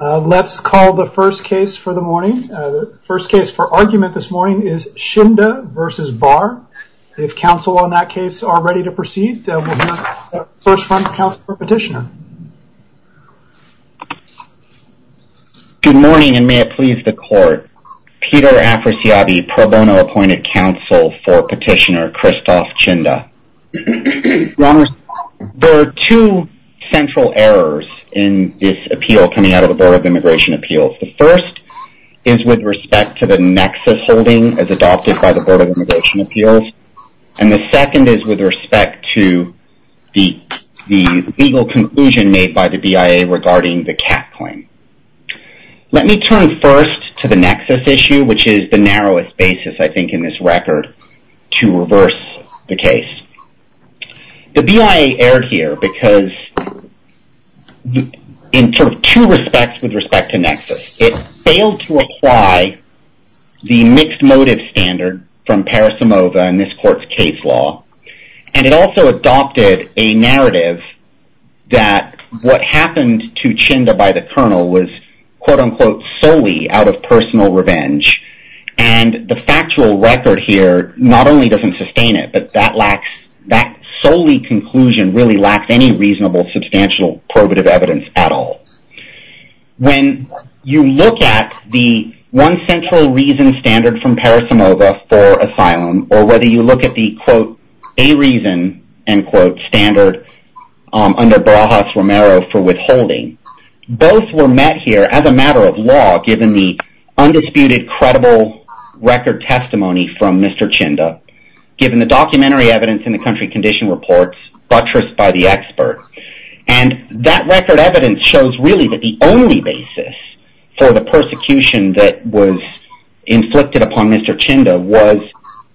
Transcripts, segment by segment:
Let's call the first case for argument this morning is Tchinda v. Barr. If counsel on that case are ready to proceed, we'll hear first from counsel for petitioner. Good morning, and may it please the court. Peter Afrasiabi Pro Bono appointed counsel for petitioner Christophe Tchinda. Your Honor, there are two central errors in this appeal coming out of the Board of Immigration Appeals. The first is with respect to the nexus holding as adopted by the Board of Immigration Appeals, and the second is with respect to the legal conclusion made by the BIA regarding the Kat claim. Let me turn first to the nexus issue, which is the narrowest basis, I think, in this record to reverse the case. The BIA erred here because in sort of two respects with respect to nexus. It failed to apply the mixed motive standard from Parisimova in this court's case law, and it also adopted a narrative that what happened to Tchinda by the colonel was, quote-unquote, solely out of personal revenge, and the factual record here not only doesn't sustain it, but that solely conclusion really lacks any reasonable substantial probative evidence at all. When you look at the one central reason standard from Parisimova for asylum, or whether you look at the, quote, a reason, end quote, standard under Barajas-Romero for withholding, both were met here as a matter of law given the undisputed credible record testimony from Mr. Tchinda, given the documentary evidence in the country condition reports buttressed by the expert, and that record evidence shows really that the only basis for the persecution that was inflicted upon Mr. Tchinda was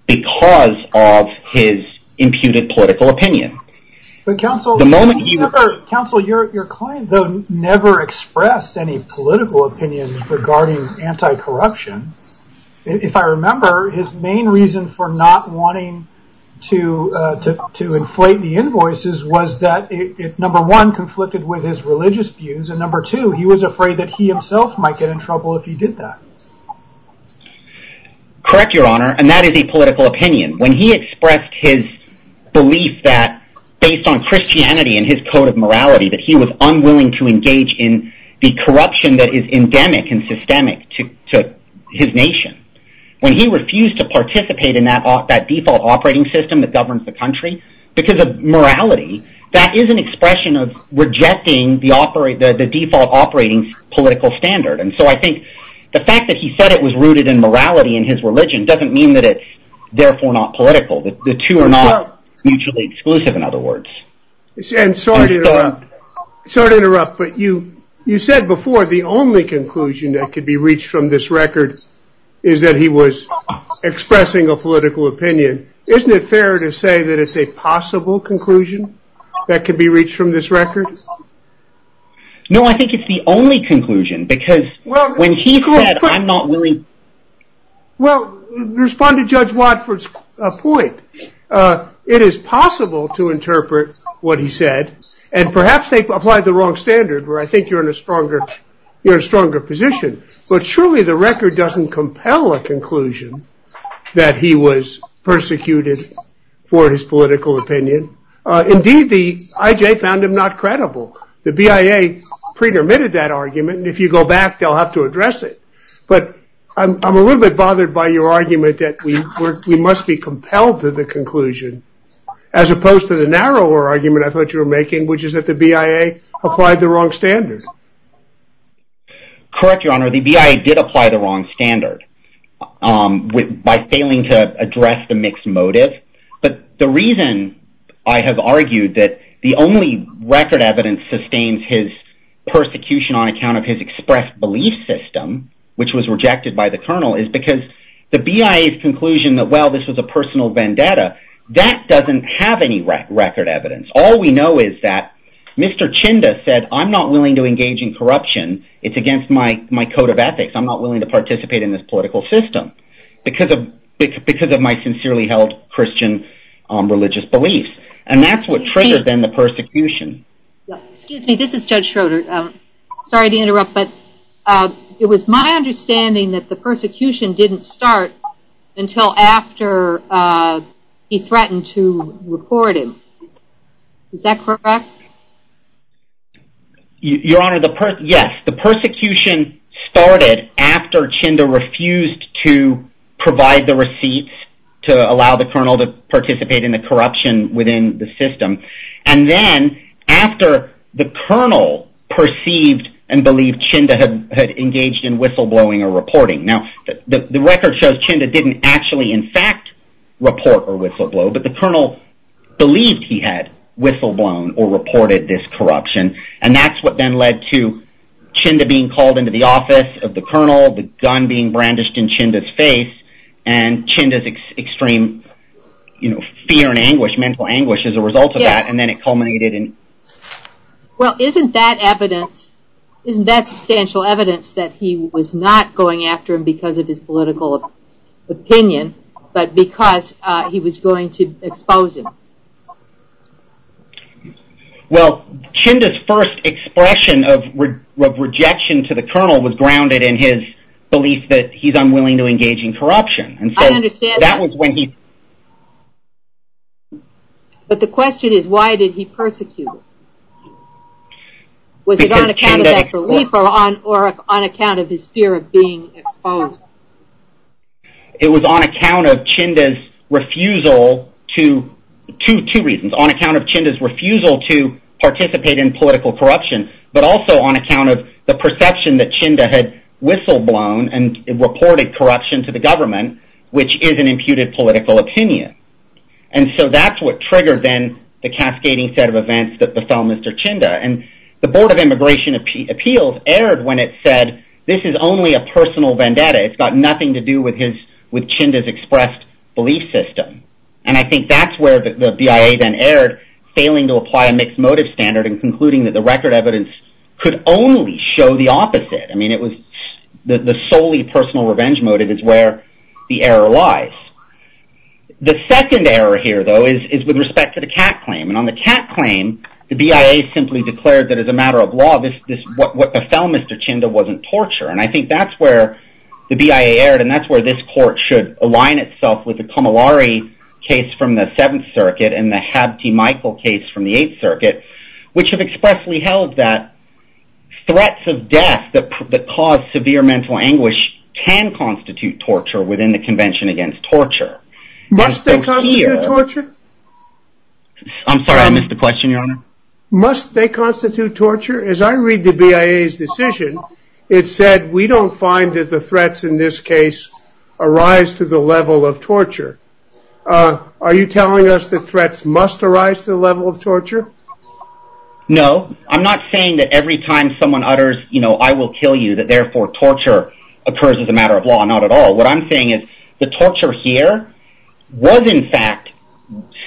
because of his imputed political opinion. But counsel, your client though never expressed any political opinion regarding anti-corruption. If I remember, his main reason for not wanting to inflate the invoices was that it, number one, conflicted with his religious views, and number two, he was afraid that he himself might get in trouble if he did that. Correct, your honor, and that is a political opinion. When he expressed his belief that, based on Christianity and his code of morality, that he was unwilling to engage in the corruption that is endemic and systemic to his nation, when he refused to participate in that default operating system that governs the country, because of morality, that is an expression of rejecting the default operating political standard. And so I think the fact that he said it was rooted in morality in his religion doesn't mean that it's therefore not political. The two are not mutually exclusive, in other words. Sorry to interrupt, but you said before the only conclusion that could be reached from this record is that he was expressing a political opinion. Isn't it fair to say that it's a possible conclusion that could be reached from this record? No, I think it's the only conclusion, because when he said, I'm not really... Well, respond to Judge Watford's point. It is possible to interpret what he said, and perhaps they applied the wrong standard where I think you're in a stronger position, but surely the record doesn't compel a conclusion that he was persecuted for his political opinion. Indeed, the IJ found him not credible. The BIA pretermitted that argument, and if you go back, they'll have to address it. But I'm a little bit bothered by your argument that we must be compelled to the conclusion, as opposed to the narrower argument I thought you were making, which is that the BIA applied the wrong standard. Correct, Your Honor, the BIA did apply the wrong standard by failing to address the mixed motive. But the reason I have argued that the only record evidence sustains his persecution on account of his expressed belief system, which was rejected by the Colonel, is because the BIA's conclusion that, well, this was a personal vendetta, that doesn't have any record evidence. All we know is that Mr. Chinda said, I'm not willing to engage in corruption. It's against my code of ethics. I'm not willing to participate in this political system. Because of my sincerely held Christian religious beliefs. And that's what triggered, then, the persecution. Excuse me, this is Judge Schroeder. Sorry to interrupt, but it was my understanding that the persecution didn't start until after he threatened to record him. Is that correct? Your Honor, yes, the persecution started after Chinda refused to provide the receipts to allow the Colonel to participate in the corruption within the system. And then, after the Colonel perceived and believed Chinda had engaged in whistleblowing or reporting. Now, the record shows Chinda didn't actually, in fact, report a whistleblow. But the Colonel believed he had whistleblown or reported this corruption. And that's what then led to Chinda being called into the office of the Colonel, the gun being brandished in Chinda's face, and Chinda's extreme fear and anguish, mental anguish, as a result of that. And then it culminated in... Well, isn't that evidence, isn't that substantial evidence that he was not going after him because of his political opinion, but because he was going to expose him? Well, Chinda's first expression of rejection to the Colonel was grounded in his belief that he's unwilling to engage in corruption. I understand that. But the question is, why did he persecute him? Was it on account of that belief or on account of his fear of being exposed? It was on account of Chinda's refusal to... Two reasons, on account of Chinda's refusal to participate in political corruption, but also on account of the perception that Chinda had whistleblown and reported corruption to the government, which is an imputed political opinion. And so that's what triggered, then, the cascading set of events that befell Mr. Chinda. And the Board of Immigration Appeals erred when it said, this is only a personal vendetta. It's got nothing to do with Chinda's expressed belief system. And I think that's where the BIA then erred, failing to apply a mixed motive standard and concluding that the record evidence could only show the opposite. I mean, the solely personal revenge motive is where the error lies. The second error here, though, is with respect to the Catt claim. And on the Catt claim, the BIA simply declared that as a matter of law, what befell Mr. Chinda wasn't torture. And I think that's where the BIA erred, and that's where this court should align itself with the Comillari case from the Seventh Circuit and the Habte-Michael case from the Eighth Circuit, which have expressly held that threats of death that cause severe mental anguish can constitute torture within the Convention Against Torture. Must they constitute torture? I'm sorry, I missed the question, Your Honor. Must they constitute torture? As I read the BIA's decision, it said, we don't find that the threats in this case arise to the level of torture. Are you telling us that threats must arise to the level of torture? No. I'm not saying that every time someone utters, you know, I will kill you, that therefore torture occurs as a matter of law. Not at all. What I'm saying is the torture here was in fact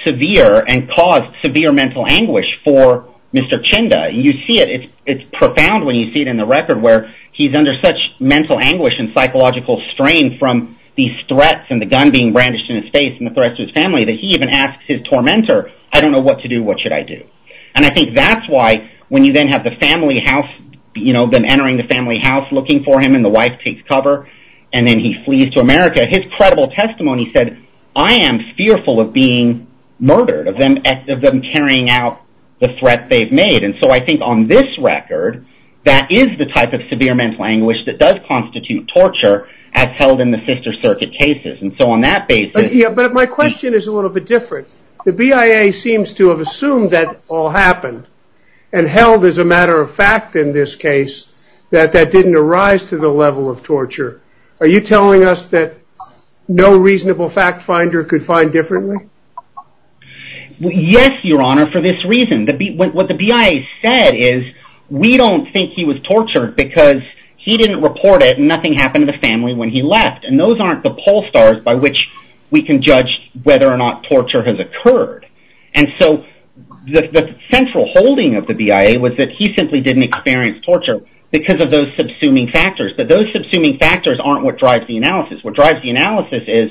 severe and caused severe mental anguish for Mr. Chinda. You see it, it's profound when you see it in the record where he's under such mental anguish and psychological strain from these threats and the gun being brandished in his face and the threats to his family that he even asks his tormentor, I don't know what to do, what should I do? And I think that's why when you then have the family house, you know, them entering the family house looking for him and the wife takes cover and then he flees to America. His credible testimony said, I am fearful of being murdered, of them carrying out the threat they've made. And so I think on this record, that is the type of severe mental anguish that does constitute torture as held in the sister circuit cases. And so on that basis. But my question is a little bit different. The BIA seems to have assumed that all happened and held as a matter of fact in this case that that didn't arise to the level of torture. Are you telling us that no reasonable fact finder could find differently? Yes, Your Honor, for this reason. What the BIA said is we don't think he was tortured because he didn't report it and nothing happened to the family when he left. And those aren't the poll stars by which we can judge whether or not torture has occurred. And so the central holding of the BIA was that he simply didn't experience torture because of those subsuming factors. But those subsuming factors aren't what drives the analysis. What drives the analysis is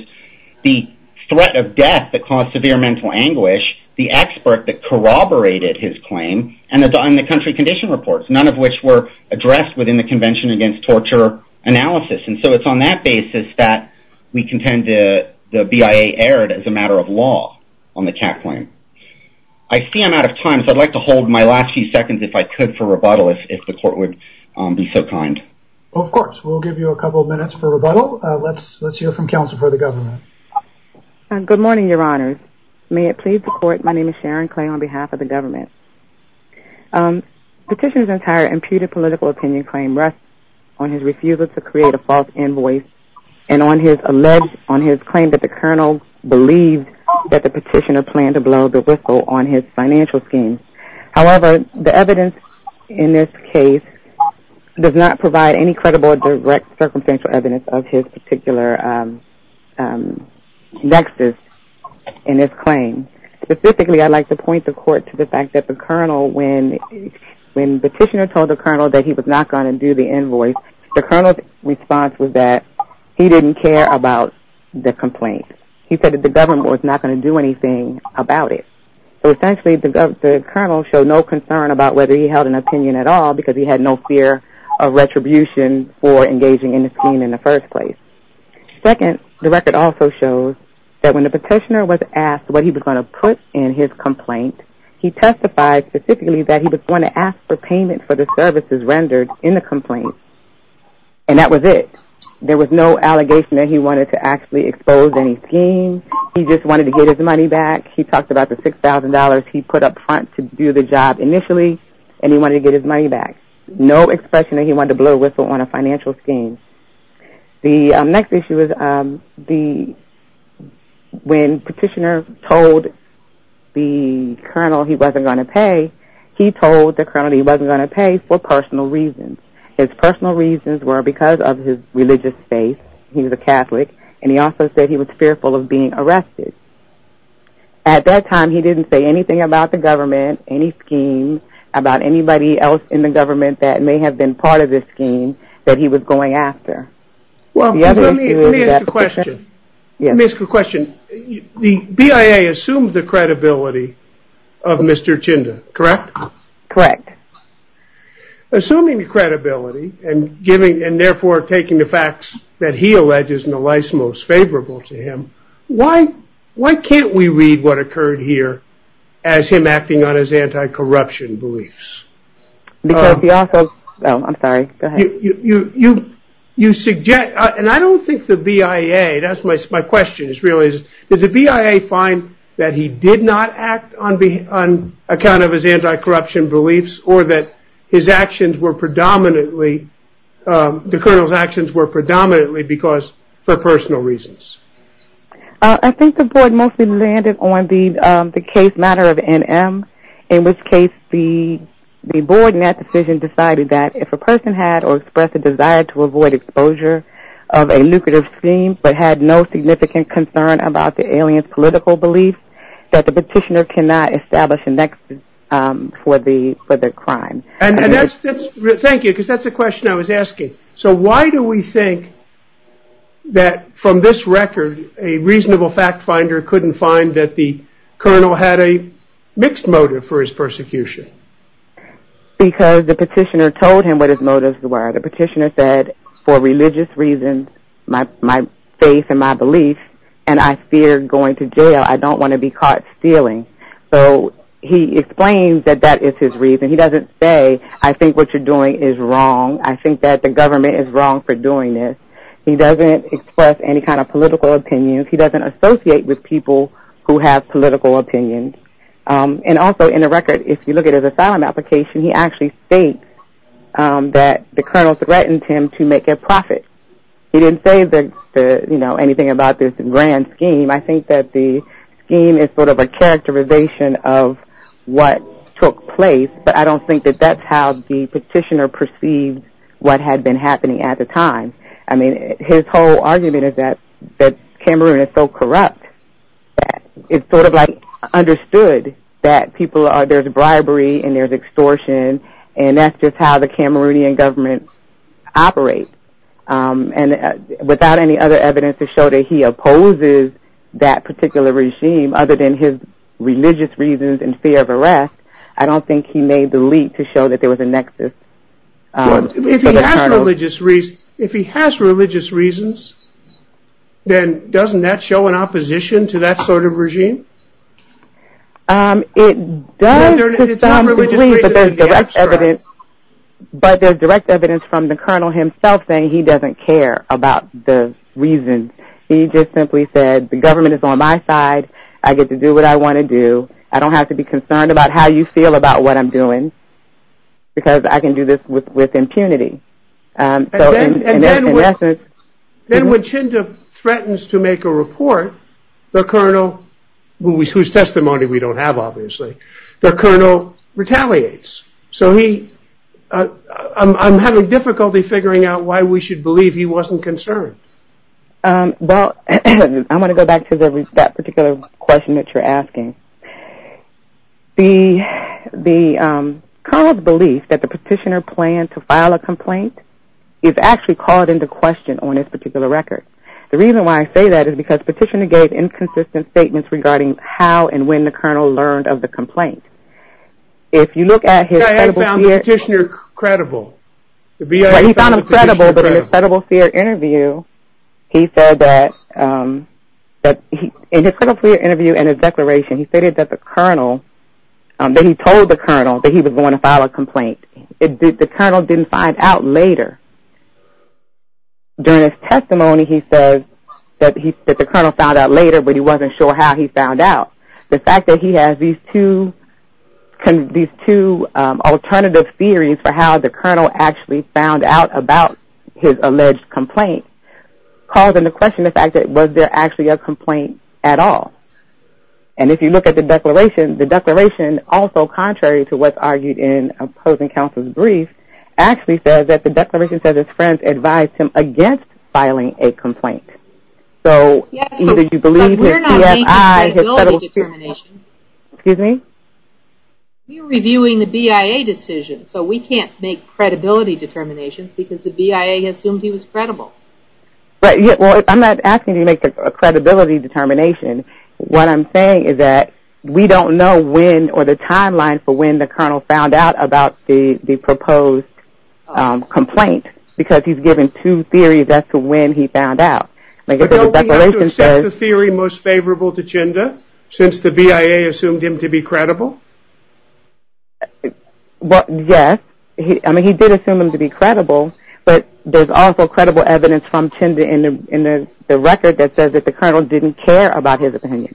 the threat of death that caused severe mental anguish, the expert that corroborated his claim, and the country condition reports, none of which were addressed within the Convention Against Torture analysis. And so it's on that basis that we contend the BIA erred as a matter of law on the Kat claim. I see I'm out of time, so I'd like to hold my last few seconds if I could for rebuttal, if the court would be so kind. Of course, we'll give you a couple of minutes for rebuttal. Let's hear from counsel for the government. Good morning, Your Honors. May it please the court, my name is Sharon Clay on behalf of the government. Petitioner's entire imputed political opinion claim rests on his refusal to create a false invoice and on his claim that the colonel believed that the petitioner planned to blow the whistle on his financial schemes. However, the evidence in this case does not provide any credible or direct circumstantial evidence of his particular nexus in his claim. Specifically, I'd like to point the court to the fact that the colonel, when the petitioner told the colonel that he was not going to do the invoice, the colonel's response was that he didn't care about the complaint. He said that the government was not going to do anything about it. So essentially, the colonel showed no concern about whether he held an opinion at all because he had no fear of retribution for engaging in the scheme in the first place. Second, the record also shows that when the petitioner was asked what he was going to put in his complaint, he testified specifically that he was going to ask for payment for the services rendered in the complaint, and that was it. There was no allegation that he wanted to actually expose any scheme. He just wanted to get his money back. He talked about the $6,000 he put up front to do the job initially, and he wanted to get his money back. No expression that he wanted to blow a whistle on a financial scheme. The next issue is when petitioner told the colonel he wasn't going to pay, he told the colonel he wasn't going to pay for personal reasons. His personal reasons were because of his religious faith. He was a Catholic, and he also said he was fearful of being arrested. At that time, he didn't say anything about the government, any scheme, about anybody else in the government that may have been part of this scheme that he was going after. Let me ask a question. The BIA assumes the credibility of Mr. Chinda, correct? Correct. Assuming the credibility, and therefore taking the facts that he alleges in the life's most favorable to him, why can't we read what occurred here as him acting on his anti-corruption beliefs? Because he also, oh, I'm sorry, go ahead. You suggest, and I don't think the BIA, that's my question is really, did the BIA find that he did not act on account of his anti-corruption beliefs, or that his actions were predominantly, the colonel's actions were predominantly for personal reasons? I think the board mostly landed on the case matter of NM, in which case the board in that decision decided that if a person had or expressed a desire to avoid exposure of a lucrative scheme but had no significant concern about the alien's political beliefs, that the petitioner cannot establish a nexus for the crime. Thank you, because that's the question I was asking. So why do we think that from this record, a reasonable fact finder couldn't find that the colonel had a mixed motive for his persecution? Because the petitioner told him what his motives were. The petitioner said, for religious reasons, my faith and my beliefs, and I fear going to jail. I don't want to be caught stealing. So he explains that that is his reason. He doesn't say, I think what you're doing is wrong. I think that the government is wrong for doing this. He doesn't express any kind of political opinions. He doesn't associate with people who have political opinions. And also in the record, if you look at his asylum application, he actually states that the colonel threatened him to make a profit. He didn't say anything about this grand scheme. I think that the scheme is sort of a characterization of what took place, but I don't think that that's how the petitioner perceived what had been happening at the time. I mean, his whole argument is that Cameroon is so corrupt that it's sort of like understood that there's bribery and there's extortion, and that's just how the Cameroonian government operates. And without any other evidence to show that he opposes that particular regime other than his religious reasons and fear of arrest, I don't think he made the leap to show that there was a nexus for the colonel. If he has religious reasons, then doesn't that show an opposition to that sort of regime? It does seem to me that there's direct evidence, but there's direct evidence from the colonel himself saying he doesn't care about the reasons. He just simply said the government is on my side. I get to do what I want to do. I don't have to be concerned about how you feel about what I'm doing, because I can do this with impunity. And then when Chinda threatens to make a report, the colonel, whose testimony we don't have, obviously, the colonel retaliates. So I'm having difficulty figuring out why we should believe he wasn't concerned. Well, I want to go back to that particular question that you're asking. The colonel's belief that the petitioner planned to file a complaint is actually called into question on this particular record. The reason why I say that is because the petitioner gave inconsistent statements regarding how and when the colonel learned of the complaint. I had found the petitioner credible. The BIA found the petitioner credible. He found him credible, but in his federal fear interview, he said that in his declaration, he stated that he told the colonel that he was going to file a complaint. The colonel didn't find out later. During his testimony, he says that the colonel found out later, but he wasn't sure how he found out. The fact that he has these two alternative theories for how the colonel actually found out about his alleged complaint calls into question the fact that was there actually a complaint at all? And if you look at the declaration, also contrary to what's argued in opposing counsel's brief, actually says that the declaration says his friends advised him against filing a complaint. So either you believe his CFI, his federal fear. Excuse me? We were reviewing the BIA decision, so we can't make credibility determinations because the BIA assumed he was credible. Well, I'm not asking you to make a credibility determination. What I'm saying is that we don't know when or the timeline for when the colonel found out about the proposed complaint because he's given two theories as to when he found out. But don't we have to accept the theory most favorable to Chenda since the BIA assumed him to be credible? Well, yes. I mean, he did assume him to be credible, but there's also credible evidence from Chenda in the record that says that the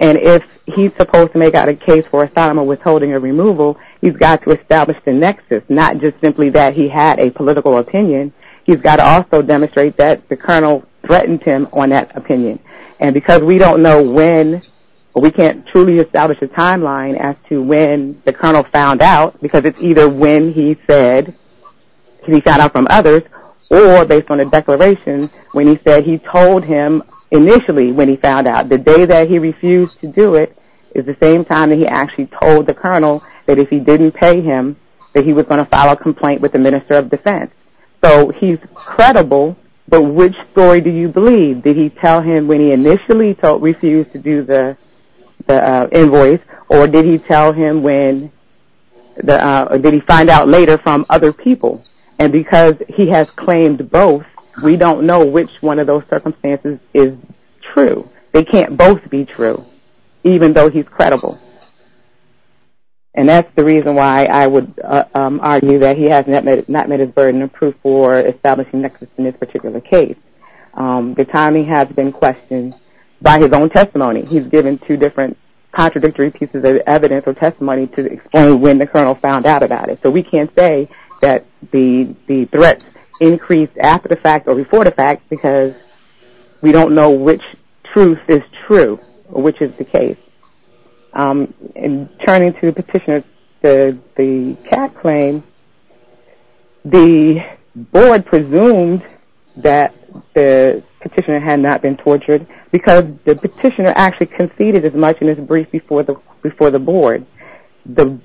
And if he's supposed to make out a case for asylum or withholding or removal, he's got to establish the nexus, not just simply that he had a political opinion. He's got to also demonstrate that the colonel threatened him on that opinion. And because we don't know when, we can't truly establish a timeline as to when the colonel found out because it's either when he said he found out from others or based on a declaration when he said he told him initially when he found out. The day that he refused to do it is the same time that he actually told the colonel that if he didn't pay him, that he was going to file a complaint with the minister of defense. So he's credible, but which story do you believe? Did he tell him when he initially refused to do the invoice, or did he tell him when, or did he find out later from other people? And because he has claimed both, we don't know which one of those circumstances is true. They can't both be true, even though he's credible. And that's the reason why I would argue that he has not met his burden of proof for establishing nexus in this particular case. The timing has been questioned by his own testimony. He's given two different contradictory pieces of evidence or testimony to explain when the colonel found out about it. So we can't say that the threats increased after the fact or before the fact because we don't know which truth is true or which is the case. And turning to the petitioner, the cat claim, the board presumed that the petitioner had not been tortured because the petitioner actually conceded as much in his brief before the board. And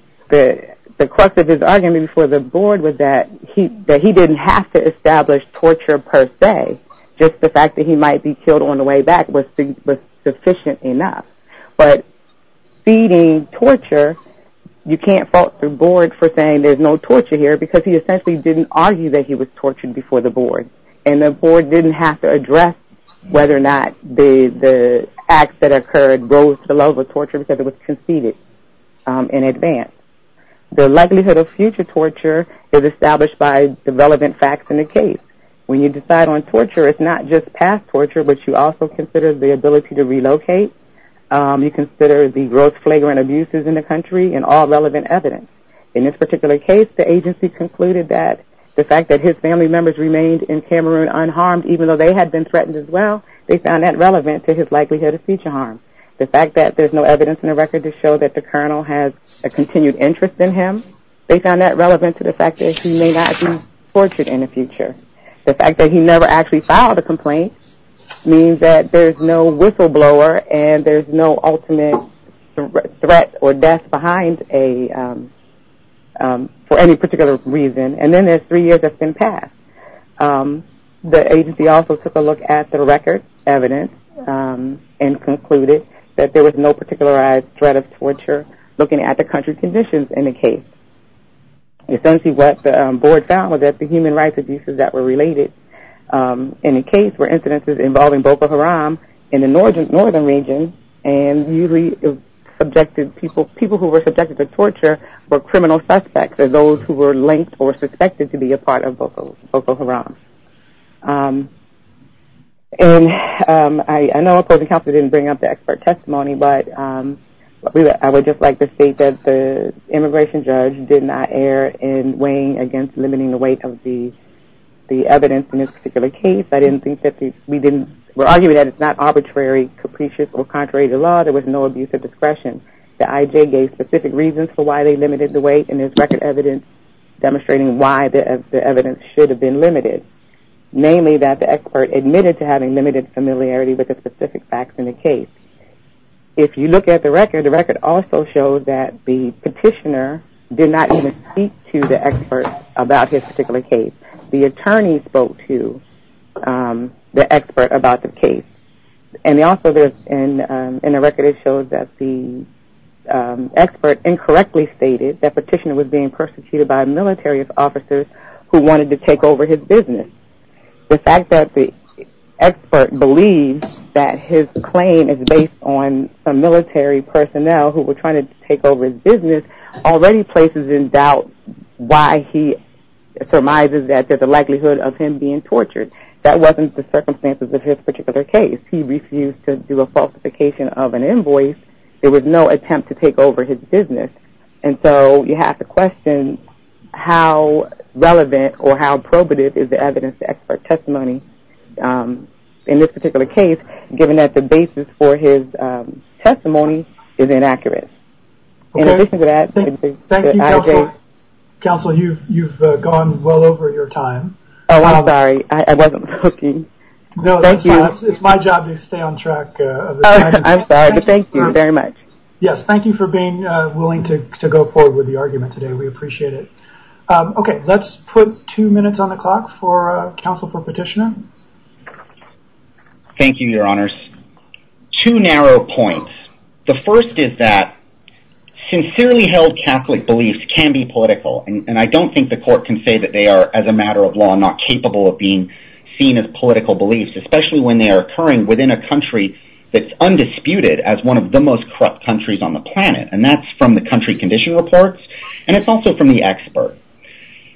the crux of his argument before the board was that he didn't have to establish torture per se, just the fact that he might be killed on the way back was sufficient enough. But feeding torture, you can't fault the board for saying there's no torture here because he essentially didn't argue that he was tortured before the board. And the board didn't have to address whether or not the acts that occurred rose to the level of torture because it was conceded in advance. The likelihood of future torture is established by the relevant facts in the case. When you decide on torture, it's not just past torture, but you also consider the ability to relocate. You consider the gross flagrant abuses in the country and all relevant evidence. In this particular case, the agency concluded that the fact that his family members remained in Cameroon unharmed even though they had been threatened as well, they found that relevant to his likelihood of future harm. The fact that there's no evidence in the record to show that the colonel has a continued interest in him, they found that relevant to the fact that he may not be tortured in the future. The fact that he never actually filed a complaint means that there's no whistleblower and there's no ultimate threat or death for any particular reason. And then there's three years that's been passed. The agency also took a look at the record evidence and concluded that there was no particularized threat of torture looking at the country conditions in the case. Essentially what the board found was that the human rights abuses that were related in the case were incidences involving Boko Haram in the northern region and usually people who were subjected to torture were criminal suspects or those who were linked or suspected to be a part of Boko Haram. And I know opposing counsel didn't bring up the expert testimony, but I would just like to state that the immigration judge did not err in weighing against limiting the weight of the evidence in this particular case. I didn't think that we didn't – we're arguing that it's not arbitrary, capricious or contrary to law. There was no abuse of discretion. The IJ gave specific reasons for why they limited the weight and there's record evidence demonstrating why the evidence should have been limited, namely that the expert admitted to having limited familiarity with the specific facts in the case. If you look at the record, the record also shows that the petitioner did not even speak to the expert about his particular case. The attorney spoke to the expert about the case. And also in the record it shows that the expert incorrectly stated that petitioner was being persecuted by military officers who wanted to take over his business. The fact that the expert believes that his claim is based on some military personnel who were trying to take over his business already places in doubt why he surmises that there's a likelihood of him being tortured. That wasn't the circumstances of his particular case. He refused to do a falsification of an invoice. There was no attempt to take over his business. And so you have to question how relevant or how probative is the evidence to expert testimony in this particular case, given that the basis for his testimony is inaccurate. In addition to that, the IJ – Thank you, counsel. Counsel, you've gone well over your time. Oh, I'm sorry. I wasn't looking. No, that's fine. It's my job to stay on track. I'm sorry, but thank you very much. Yes, thank you for being willing to go forward with the argument today. We appreciate it. Okay, let's put two minutes on the clock for counsel for petitioner. Thank you, your honors. Two narrow points. The first is that sincerely held Catholic beliefs can be political, and I don't think the court can say that they are, as a matter of law, not capable of being seen as political beliefs, especially when they are occurring within a country that's undisputed as one of the most corrupt countries on the planet. And that's from the country condition reports, and it's also from the expert.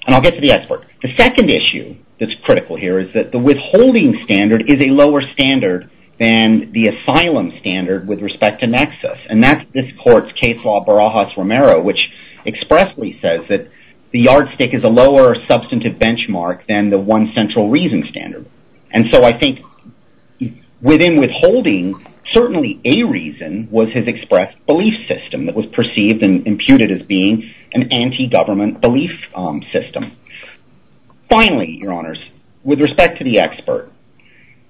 And I'll get to the expert. The second issue that's critical here is that the withholding standard is a lower standard than the asylum standard with respect to nexus. And that's this court's case law, Barajas-Romero, which expressly says that the yardstick is a lower substantive benchmark than the one central reason standard. And so I think within withholding, certainly a reason was his expressed belief system that was perceived and imputed as being an anti-government belief system. Finally, your honors, with respect to the expert,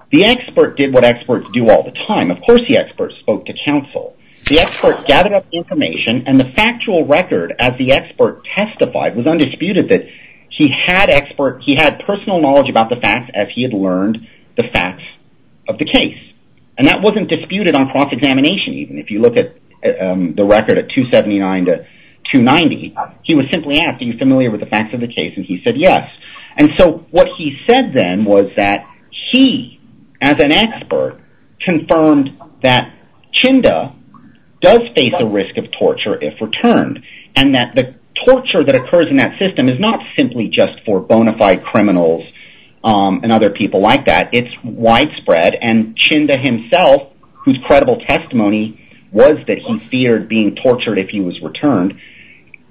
the expert did what experts do all the time. Of course, the expert spoke to counsel. The expert gathered up information, and the factual record, as the expert testified, was undisputed that he had personal knowledge about the facts as he had learned the facts of the case. And that wasn't disputed on cross-examination even. If you look at the record at 279 to 290, he was simply asked, are you familiar with the facts of the case? And he said yes. And so what he said then was that he, as an expert, confirmed that Chinda does face a risk of torture if returned, and that the torture that occurs in that system is not simply just for bona fide criminals and other people like that. It's widespread. And Chinda himself, whose credible testimony was that he feared being tortured if he was returned,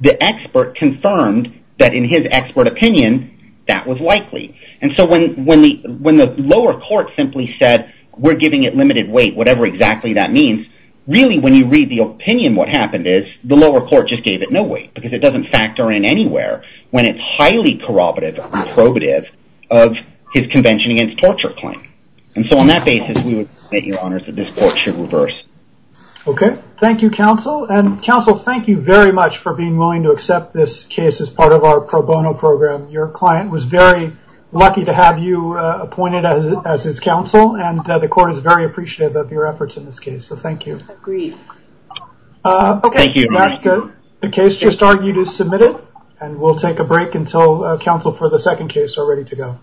the expert confirmed that in his expert opinion, that was likely. And so when the lower court simply said, we're giving it limited weight, whatever exactly that means, really when you read the opinion what happened is the lower court just gave it no weight because it doesn't factor in anywhere when it's highly corroborative and probative of his convention against torture claim. And so on that basis, we would submit, Your Honors, that this court should reverse. Okay. Thank you, counsel. And counsel, thank you very much for being willing to accept this case as part of our pro bono program. Your client was very lucky to have you appointed as his counsel, and the court is very appreciative of your efforts in this case. So thank you. Agreed. Okay. The case just argued is submitted, and we'll take a break until counsel for the second case are ready to go.